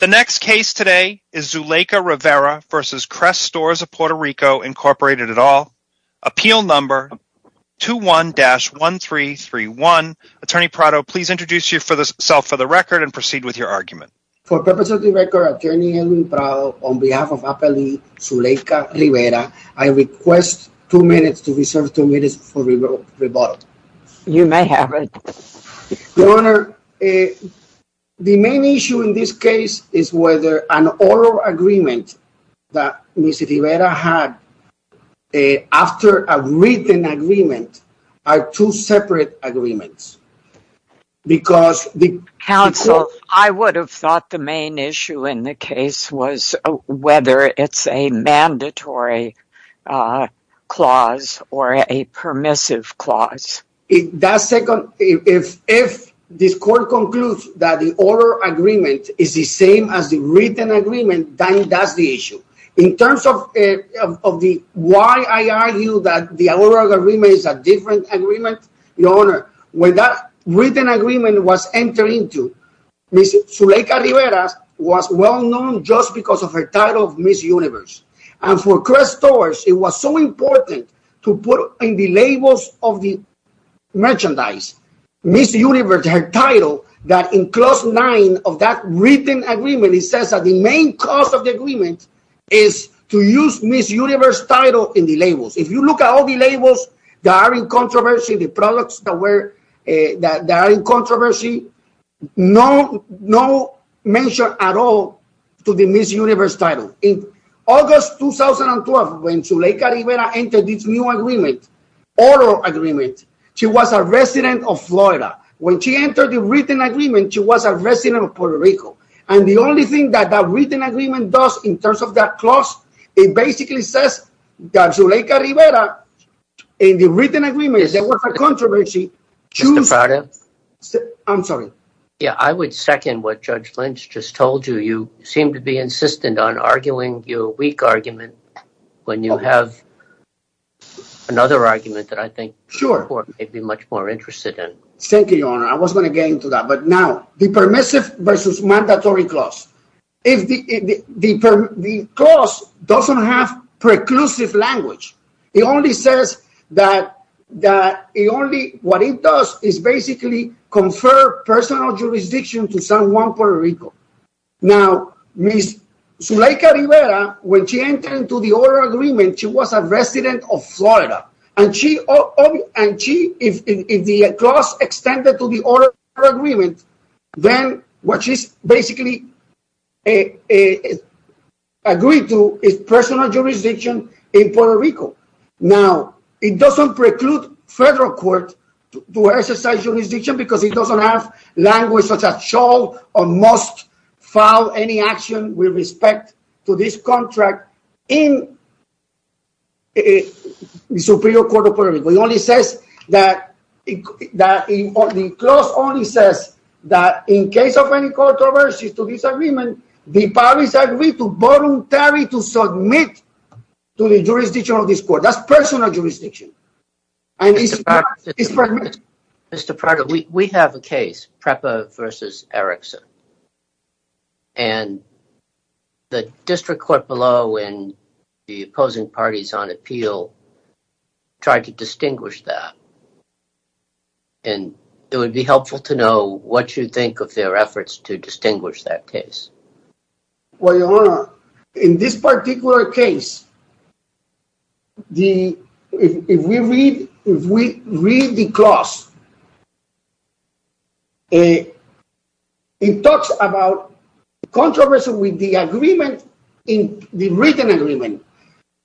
The next case today is Zuleika Rivera v. Kress Stores P.R., Inc., at all. Appeal number 21-1331. Attorney Prado, please introduce yourself for the record and proceed with your argument. For purposes of the record, Attorney Edwin Prado, on behalf of Appellee Zuleika Rivera, I request two minutes to reserve two minutes for rebuttal. You may have it. Your Honor, the main issue in this case is whether an oral agreement that Ms. Rivera had after a written agreement are two separate agreements. Because the- Counsel, I would have thought the main issue in the case was whether it's a mandatory clause or a permissive clause. If that second, if this court concludes that the oral agreement is the same as the written agreement, then that's the issue. In terms of the why I argue that the oral agreement is a different agreement, Your Honor, when that written agreement was entered into, Ms. Zuleika Rivera was well-known just because of her title of Ms. Universe, and for Kress Stores, it was so important to put in the merchandise, Ms. Universe, her title, that in clause nine of that written agreement, it says that the main cause of the agreement is to use Ms. Universe title in the labels. If you look at all the labels that are in controversy, the products that were, that are in controversy, no mention at all to the Ms. Universe title. In August 2012, when Zuleika Rivera entered this new agreement, oral agreement, she was a resident of Florida. When she entered the written agreement, she was a resident of Puerto Rico. And the only thing that that written agreement does in terms of that clause, it basically says that Zuleika Rivera, in the written agreement, there was a controversy, choose- Mr. Prado? I'm sorry. Yeah, I would second what Judge Lynch just told you. You seem to be insistent on arguing your weak argument when you have another argument that I think- Sure. The court may be much more interested in. Thank you, Your Honor. I was going to get into that. But now, the permissive versus mandatory clause, the clause doesn't have preclusive language. It only says that, that it only, what it does is basically confer personal jurisdiction to someone Puerto Rico. Now Ms. Zuleika Rivera, when she entered into the oral agreement, she was a resident of Florida. And she, and she, if the clause extended to the oral agreement, then what she's basically agreed to is personal jurisdiction in Puerto Rico. Now it doesn't preclude federal court to exercise jurisdiction because it doesn't have language such as shall or must file any action with respect to this contract in the Superior Court of Puerto Rico. It only says that, that the clause only says that in case of any controversy to this agreement, the parties agree to voluntary to submit to the jurisdiction of this court. That's personal jurisdiction. And it's- Mr. Prado, we have a case, Prepa versus Erickson. And the district court below and the opposing parties on appeal tried to distinguish that. And it would be helpful to know what you think of their efforts to distinguish that case. Well, Your Honor, in this particular case, the, if we read, if we read the clause, it talks about controversy with the agreement in the written agreement.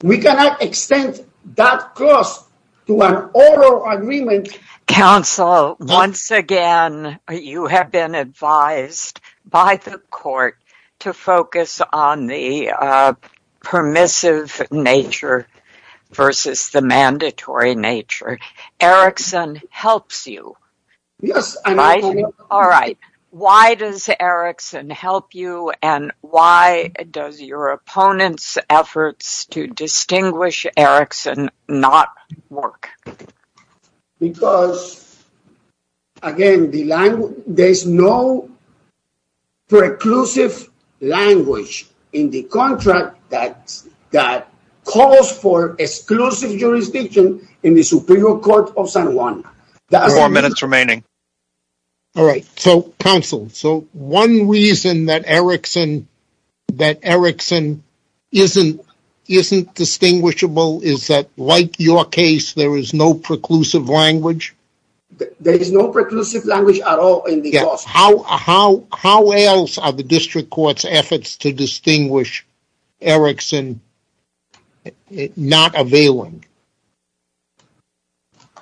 We cannot extend that clause to an oral agreement. Counsel, once again, you have been advised by the court to focus on the permissive nature versus the mandatory nature. Erickson helps you. Yes. All right. Why does Erickson help you? And why does your opponent's efforts to distinguish Erickson not work? Because, again, the language, there's no preclusive language in the contract that calls for exclusive jurisdiction in the Superior Court of San Juan. That's- Four minutes remaining. All right. So, counsel, so one reason that Erickson, that Erickson isn't, isn't distinguishable is that like your case, there is no preclusive language? There is no preclusive language at all in the clause. How else are the district court's efforts to distinguish Erickson not availing?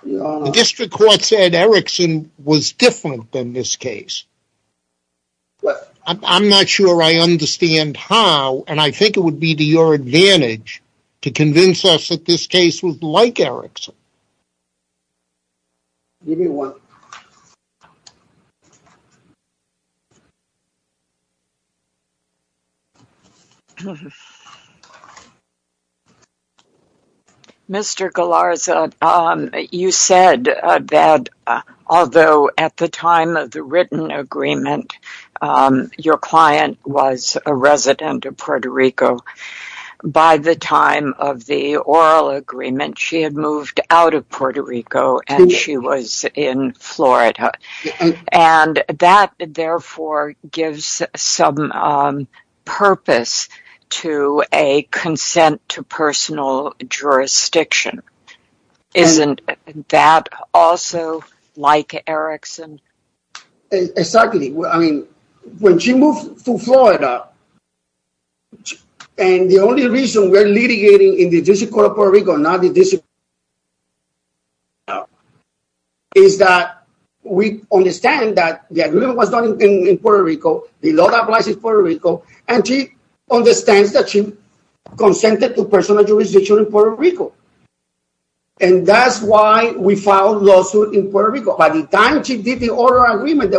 The district court said Erickson was different than this case. I'm not sure I understand how, and I think it would be to your advantage to convince us that this case was like Erickson. Give me one. Mr. Galarza, you said that although at the time of the written agreement, your client was a resident of Puerto Rico, by the time of the oral agreement, she had moved out of Puerto Rico and she was in Florida. And that, therefore, gives some purpose to a consent to personal jurisdiction. Isn't that also like Erickson? Exactly. I mean, when she moved to Florida, and the only reason we're litigating in the district court of Puerto Rico, not the district, is that we understand that the agreement was done in Puerto Rico, the law applies in Puerto Rico, and she understands that she consented to personal jurisdiction in Puerto Rico. And that's why we filed a lawsuit in Puerto Rico. By the time she did the oral agreement,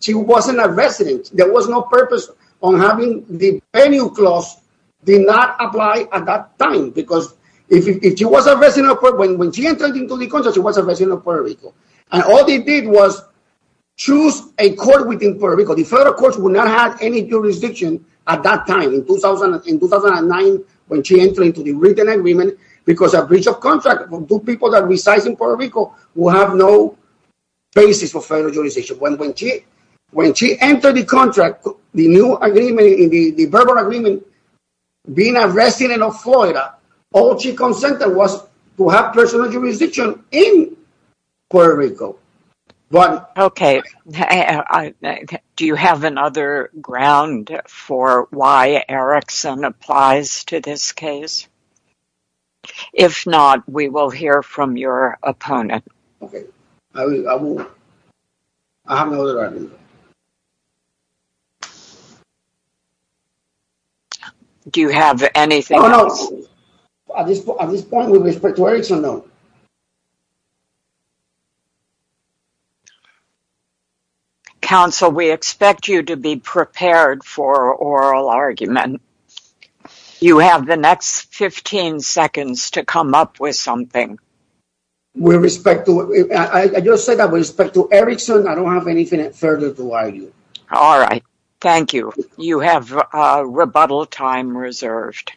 she wasn't a resident. There was no purpose on having the venue clause did not apply at that time. Because if she was a resident of Puerto Rico, when she entered into the contract, she was a resident of Puerto Rico, and all they did was choose a court within Puerto Rico. The federal courts would not have any jurisdiction at that time, in 2009, when she entered into the written agreement, because a breach of contract would do people that reside in Puerto Rico basis for federal jurisdiction. When she entered the contract, the new agreement, the verbal agreement, being a resident of Florida, all she consented was to have personal jurisdiction in Puerto Rico. Okay. Do you have another ground for why Erickson applies to this case? If not, we will hear from your opponent. Okay. I will. I will. I have no other argument. Do you have anything else? No, no. At this point, with respect to Erickson, no. Counsel, we expect you to be prepared for oral argument. You have the next 15 seconds to come up with something. I just said that with respect to Erickson, I don't have anything further to argue. All right. Thank you. You have rebuttal time reserved.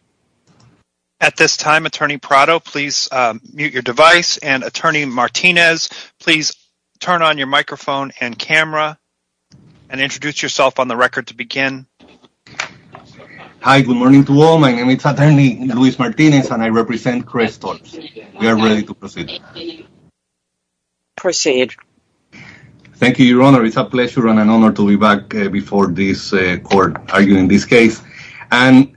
At this time, Attorney Prado, please mute your device, and Attorney Martinez, please turn on your microphone and camera, and introduce yourself on the record to begin. Hi. Good morning to all. My name is Attorney Luis Martinez, and I represent Crystal. We are ready to proceed. Thank you. Proceed. Thank you, Your Honor. It's a pleasure and an honor to be back before this court, arguing this case. And,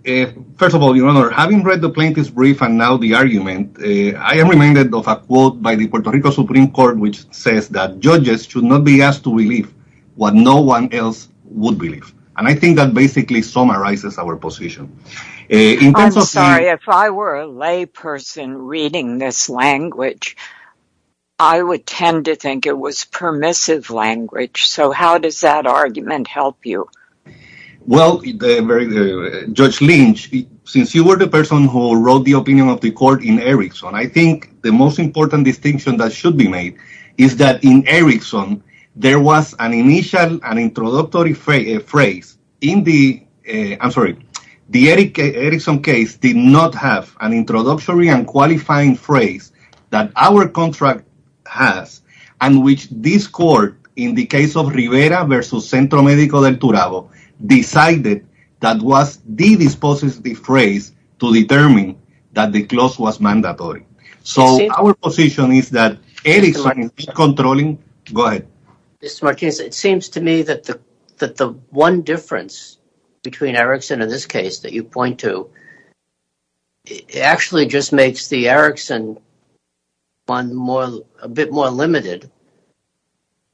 first of all, Your Honor, having read the plaintiff's brief and now the argument, I am reminded of a quote by the Puerto Rico Supreme Court which says that judges should not be asked to believe what no one else would believe, and I think that basically summarizes our position. I'm sorry. If I were a layperson reading this language, I would tend to think it was permissive language, so how does that argument help you? Well, Judge Lynch, since you were the person who wrote the opinion of the court in Erickson, I think the most important distinction that should be made is that in Erickson there was an initial and introductory phrase in the, I'm sorry, the Erickson case did not have an introductory and qualifying phrase that our contract has, and which this court, in the case of Rivera v. Centro Medico del Turabo, decided that was the dispositive phrase to determine that the clause was mandatory. So our position is that Erickson is controlling, go ahead. Mr. Martinez, it seems to me that the one difference between Erickson and this case that you point to actually just makes the Erickson one a bit more limited.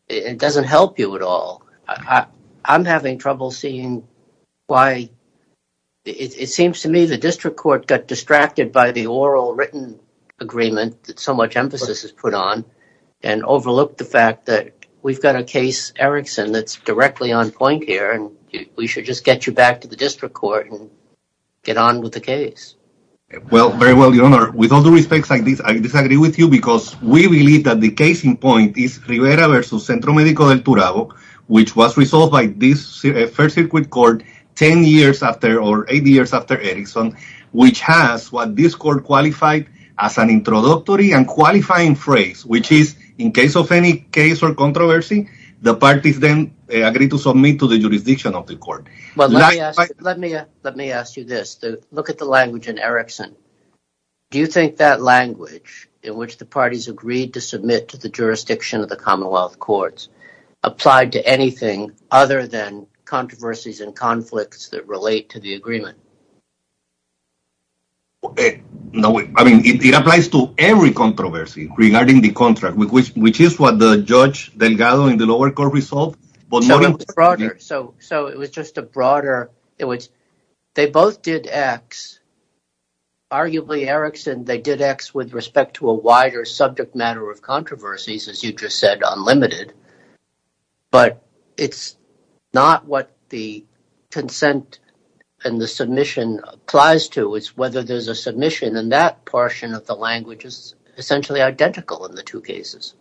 It doesn't help you at all. I'm having trouble seeing why, it seems to me the district court got distracted by the We've got a case, Erickson, that's directly on point here, and we should just get you back to the district court and get on with the case. Well, very well, Your Honor. With all due respect, I disagree with you because we believe that the case in point is Rivera v. Centro Medico del Turabo, which was resolved by this First Circuit Court ten years after, or eight years after Erickson, which has what this court qualified as an the parties then agreed to submit to the jurisdiction of the court. Let me ask you this. Look at the language in Erickson. Do you think that language, in which the parties agreed to submit to the jurisdiction of the Commonwealth Courts, applied to anything other than controversies and conflicts that relate to the agreement? No, I mean, it applies to every controversy regarding the contract, which is what the lower court resolved. So, it was just a broader, it was, they both did X, arguably, Erickson, they did X with respect to a wider subject matter of controversies, as you just said, unlimited. But it's not what the consent and the submission applies to. It's whether there's a submission, and that portion of the language is essentially identical in the two cases.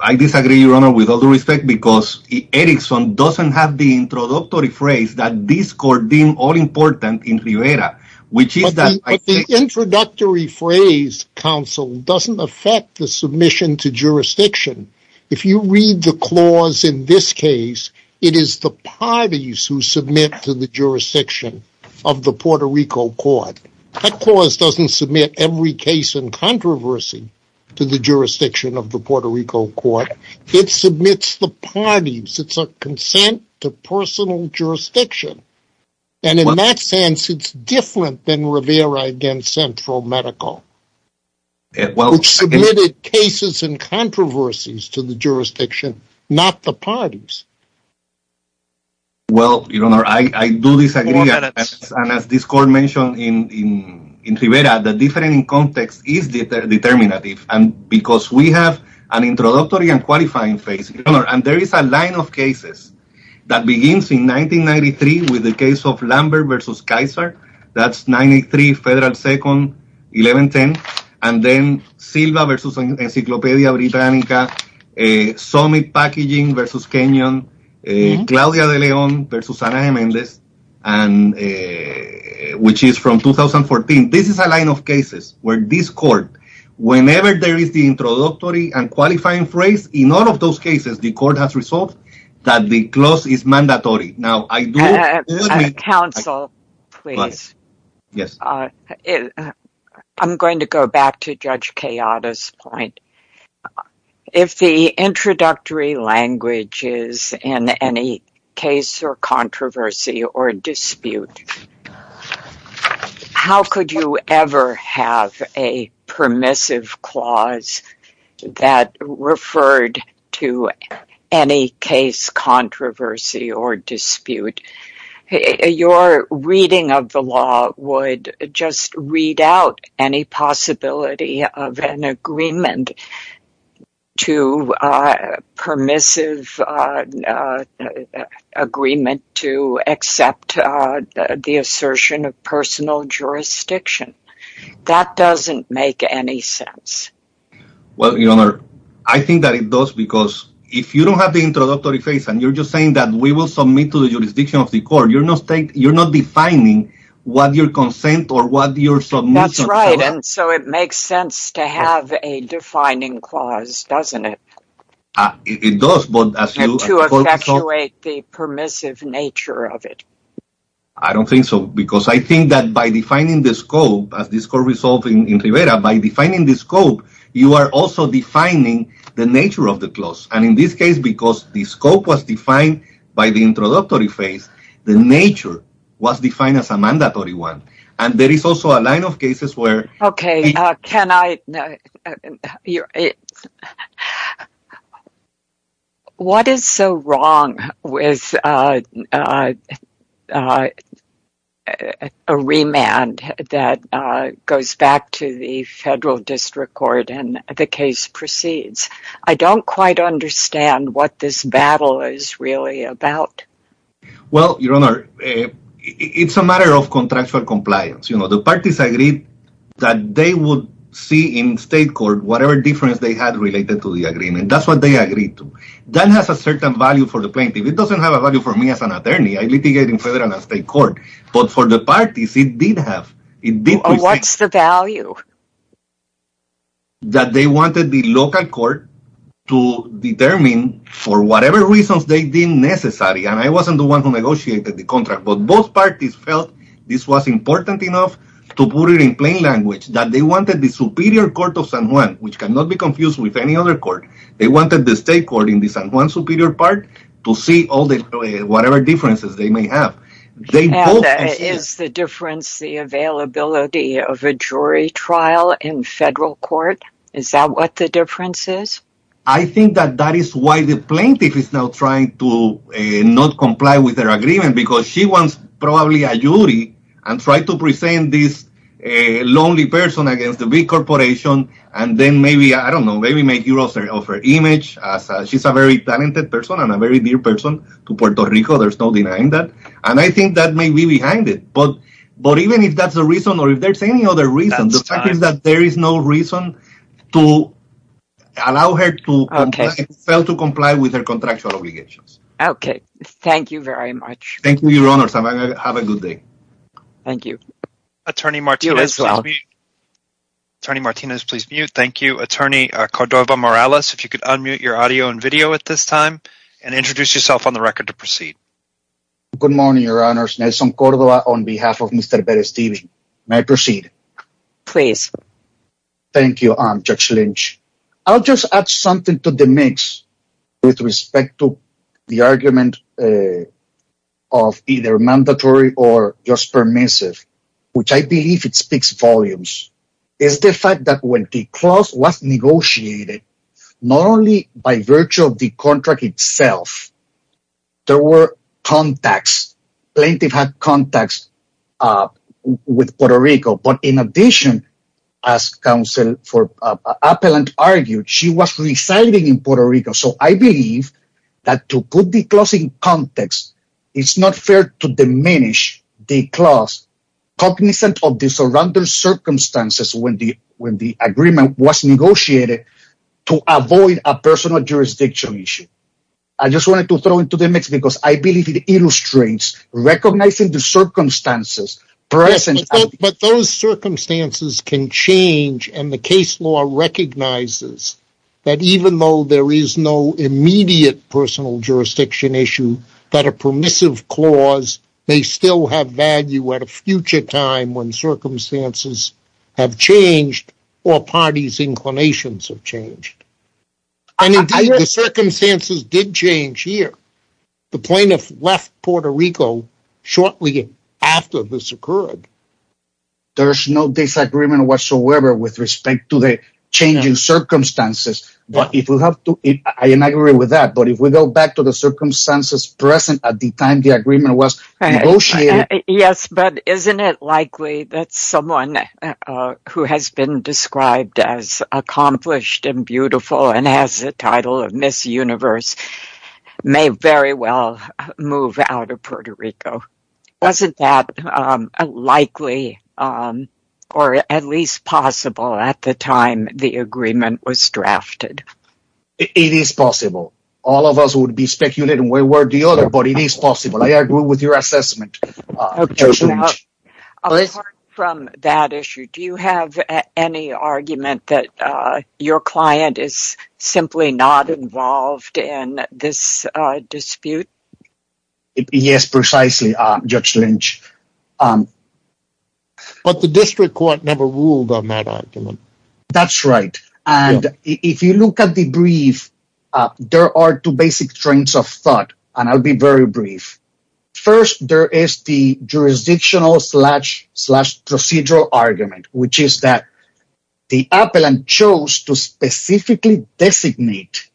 I disagree, Your Honor, with all due respect, because Erickson doesn't have the introductory phrase that this court deemed all-important in Rivera, which is that I think... But the introductory phrase, counsel, doesn't affect the submission to jurisdiction. If you read the clause in this case, it is the parties who submit to the jurisdiction of the Puerto Rico court. That clause doesn't submit every case in controversy to the jurisdiction of the Puerto Rico court. It submits the parties. It's a consent to personal jurisdiction, and in that sense, it's different than Rivera against Central Medical, which submitted cases and controversies to the jurisdiction, not the parties. Well, Your Honor, I do disagree, and as this court mentioned in Rivera, the different context is determinative, and because we have an introductory and qualifying phase, Your Honor, and there is a line of cases that begins in 1993 with the case of Lambert versus Kaiser. That's 93 Federal 2nd, 1110, and then Silva versus Encyclopedia Britannica, Summit Packaging versus Kenyon, Claudia de Leon versus Anaheim-Mendez, which is from 2014. This is a line of cases where this court, whenever there is the introductory and qualifying phrase, in all of those cases, the court has resolved that the clause is mandatory. Now, I do... Counsel, please. Yes. I'm going to go back to Judge Queada's point. If the introductory language is in any case or controversy or dispute, how could you ever have a permissive clause that referred to any case, controversy, or dispute? Your reading of the law would just read out any possibility of an agreement to... permissive agreement to accept the assertion of personal jurisdiction. That doesn't make any sense. Well, Your Honor, I think that it does, because if you don't have the introductory phrase and you're just saying that we will submit to the jurisdiction of the court, you're not defining what your consent or what your submission... That's right, and so it makes sense to have a defining clause, doesn't it? It does, but as you... And to effectuate the permissive nature of it. I don't think so, because I think that by defining the scope, as this court resolved in Rivera, by defining the scope, you are also defining the nature of the clause. And in this case, because the scope was defined by the introductory phrase, the nature was defined as a mandatory one. And there is also a line of cases where... Okay, can I... What is so wrong with a remand that goes back to the federal district court and the case proceeds? I don't quite understand what this battle is really about. Well, Your Honor, it's a matter of contractual compliance. The parties agreed that they would see in state court whatever difference they had related to the agreement. That's what they agreed to. That has a certain value for the plaintiff. It doesn't have a value for me as an attorney. I litigate in federal and state court. But for the parties, it did have... What's the value? That they wanted the local court to determine for whatever reasons they deemed necessary. And I wasn't the one who negotiated the contract. But both parties felt this was important enough to put it in plain language, that they wanted the superior court of San Juan, which cannot be confused with any other court. They wanted the state court in the San Juan superior part to see whatever differences they may have. And is the difference the availability of a jury trial in federal court? Is that what the difference is? I think that that is why the plaintiff is now trying to not comply with their agreement because she wants probably a jury and tried to present this lonely person against a big corporation and then maybe, I don't know, maybe make use of her image. She's a very talented person and a very dear person to Puerto Rico. There's no denying that. And I think that may be behind it. But even if that's the reason or if there's any other reason, the fact is that there is no reason to allow her to fail to comply with her contractual obligations. Okay. Thank you very much. Thank you, Your Honor. Have a good day. Thank you. Attorney Martinez, please mute. Thank you. Attorney Cordova-Morales, if you could unmute your audio and video at this time and introduce yourself on the record to proceed. Good morning, Your Honors. Nelson Cordova on behalf of Mr. Perez-Steven. May I proceed? Please. Thank you, Judge Lynch. I'll just add something to the mix with respect to the argument of either mandatory or just permissive, which I believe it speaks volumes, is the fact that when the clause was negotiated, not only by virtue of the contract itself, there were contacts. Plaintiff had contacts with Puerto Rico. But in addition, as counsel for Appellant argued, she was residing in Puerto Rico. So I believe that to put the clause in context, it's not fair to diminish the clause cognizant of the surrounding circumstances when the agreement was negotiated to avoid a personal jurisdiction issue. I just wanted to throw into the mix because I believe it illustrates recognizing the circumstances present. But those circumstances can change and the case law recognizes that even though there is no immediate personal jurisdiction issue, that a permissive clause may still have value at a future time when circumstances have changed or parties' inclinations have changed. And indeed, the circumstances did change here. The plaintiff left Puerto Rico shortly after this occurred. There is no disagreement whatsoever with respect to the changing circumstances. I agree with that. But if we go back to the circumstances present at the time the agreement was negotiated. Yes, but isn't it likely that someone who has been described as accomplished and beautiful and has the title of Miss Universe may very well move out of Puerto Rico? Wasn't that likely or at least possible at the time the agreement was drafted? It is possible. All of us would be speculating one way or the other, but it is possible. I agree with your assessment, Judge Lynch. Apart from that issue, do you have any argument that your client is simply not involved in this dispute? Yes, precisely, Judge Lynch. But the district court never ruled on that argument. That's right. If you look at the brief, there are two basic strains of thought, and I'll be very brief. First, there is the jurisdictional slash procedural argument, which is that the appellant chose to specifically designate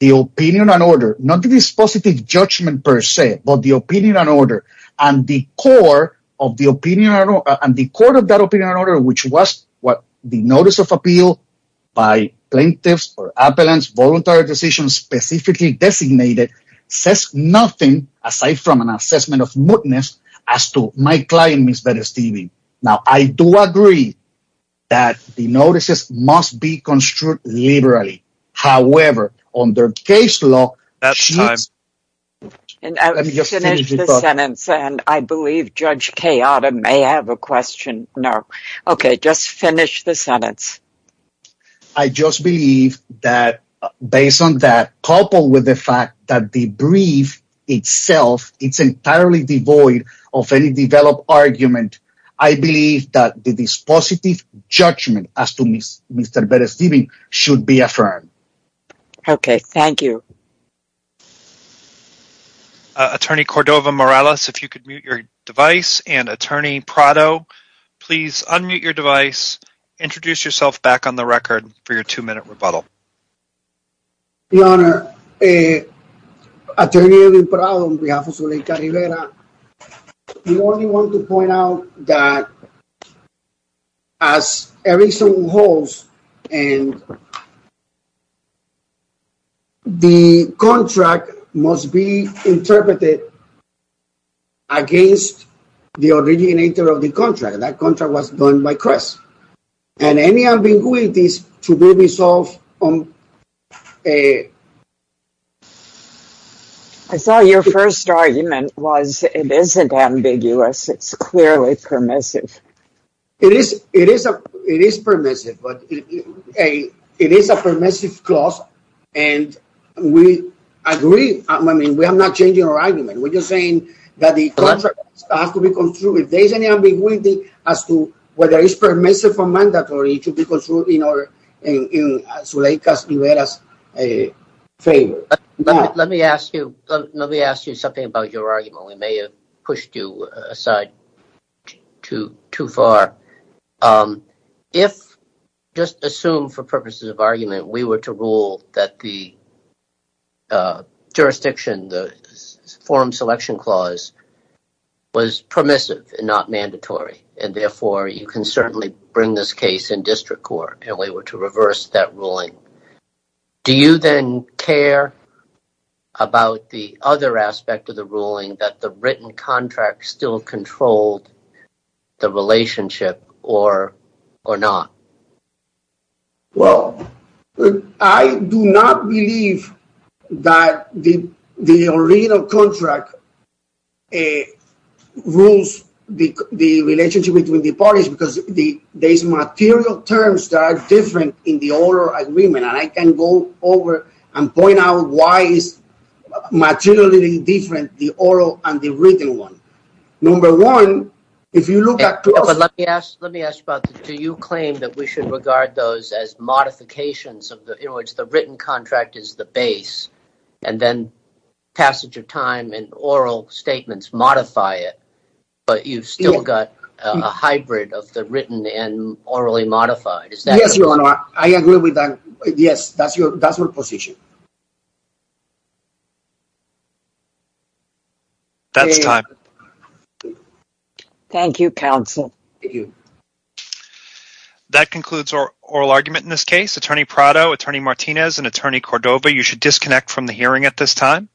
the opinion and order, not the dispositive judgment per se, but the opinion and order. And the court of that opinion and order, which was the notice of appeal by plaintiffs or appellants, voluntary decisions specifically designated, says nothing, aside from an assessment of mootness, as to my client, Ms. Berestivy. Now, I do agree that the notices must be construed liberally. However, under case law, she... Let me just finish this sentence, and I believe Judge Queada may have a question. Okay, just finish the sentence. I just believe that, based on that, coupled with the fact that the brief itself is entirely devoid of any developed argument, I believe that the dispositive judgment as to Mr. Berestivy should be affirmed. Okay, thank you. Attorney Cordova-Morales, if you could mute your device, and Attorney Prado, please unmute your device, introduce yourself back on the record for your two-minute rebuttal. Your Honor, Attorney Edwin Prado, on behalf of Zuleika Rivera, we only want to point out that, as a reason holds, and the contract must be interpreted against the originator of the contract. That contract was done by Crest. And any ambiguities to be resolved on a... I saw your first argument was it isn't ambiguous. It's clearly permissive. It is permissive, but it is a permissive clause, and we agree. I mean, we are not changing our argument. We're just saying that the contract has to be construed. If there is any ambiguity as to whether it's permissive or mandatory to be construed in Zuleika Rivera's favor. Let me ask you something about your argument. We may have pushed you aside too far. If, just assume for purposes of argument, we were to rule that the jurisdiction, the forum selection clause, was permissive and not mandatory, and therefore you can certainly bring this case in district court, and we were to reverse that ruling, do you then care about the other aspect of the ruling, that the written contract still controlled the relationship or not? Well, I do not believe that the original contract rules the relationship between the parties because there's material terms that are different in the oral agreement, and I can go over and point out why it's materially different, the oral and the written one. Number one, if you look at… But let me ask about this. Do you claim that we should regard those as modifications of the… in other words, the written contract is the base, and then passage of time and oral statements modify it, but you've still got a hybrid of the written and orally modified? Yes, Your Honor, I agree with that. Yes, that's your position. That's time. Thank you, counsel. Thank you. That concludes our oral argument in this case. Attorney Prado, Attorney Martinez, and Attorney Cordova, you should disconnect from the hearing at this time.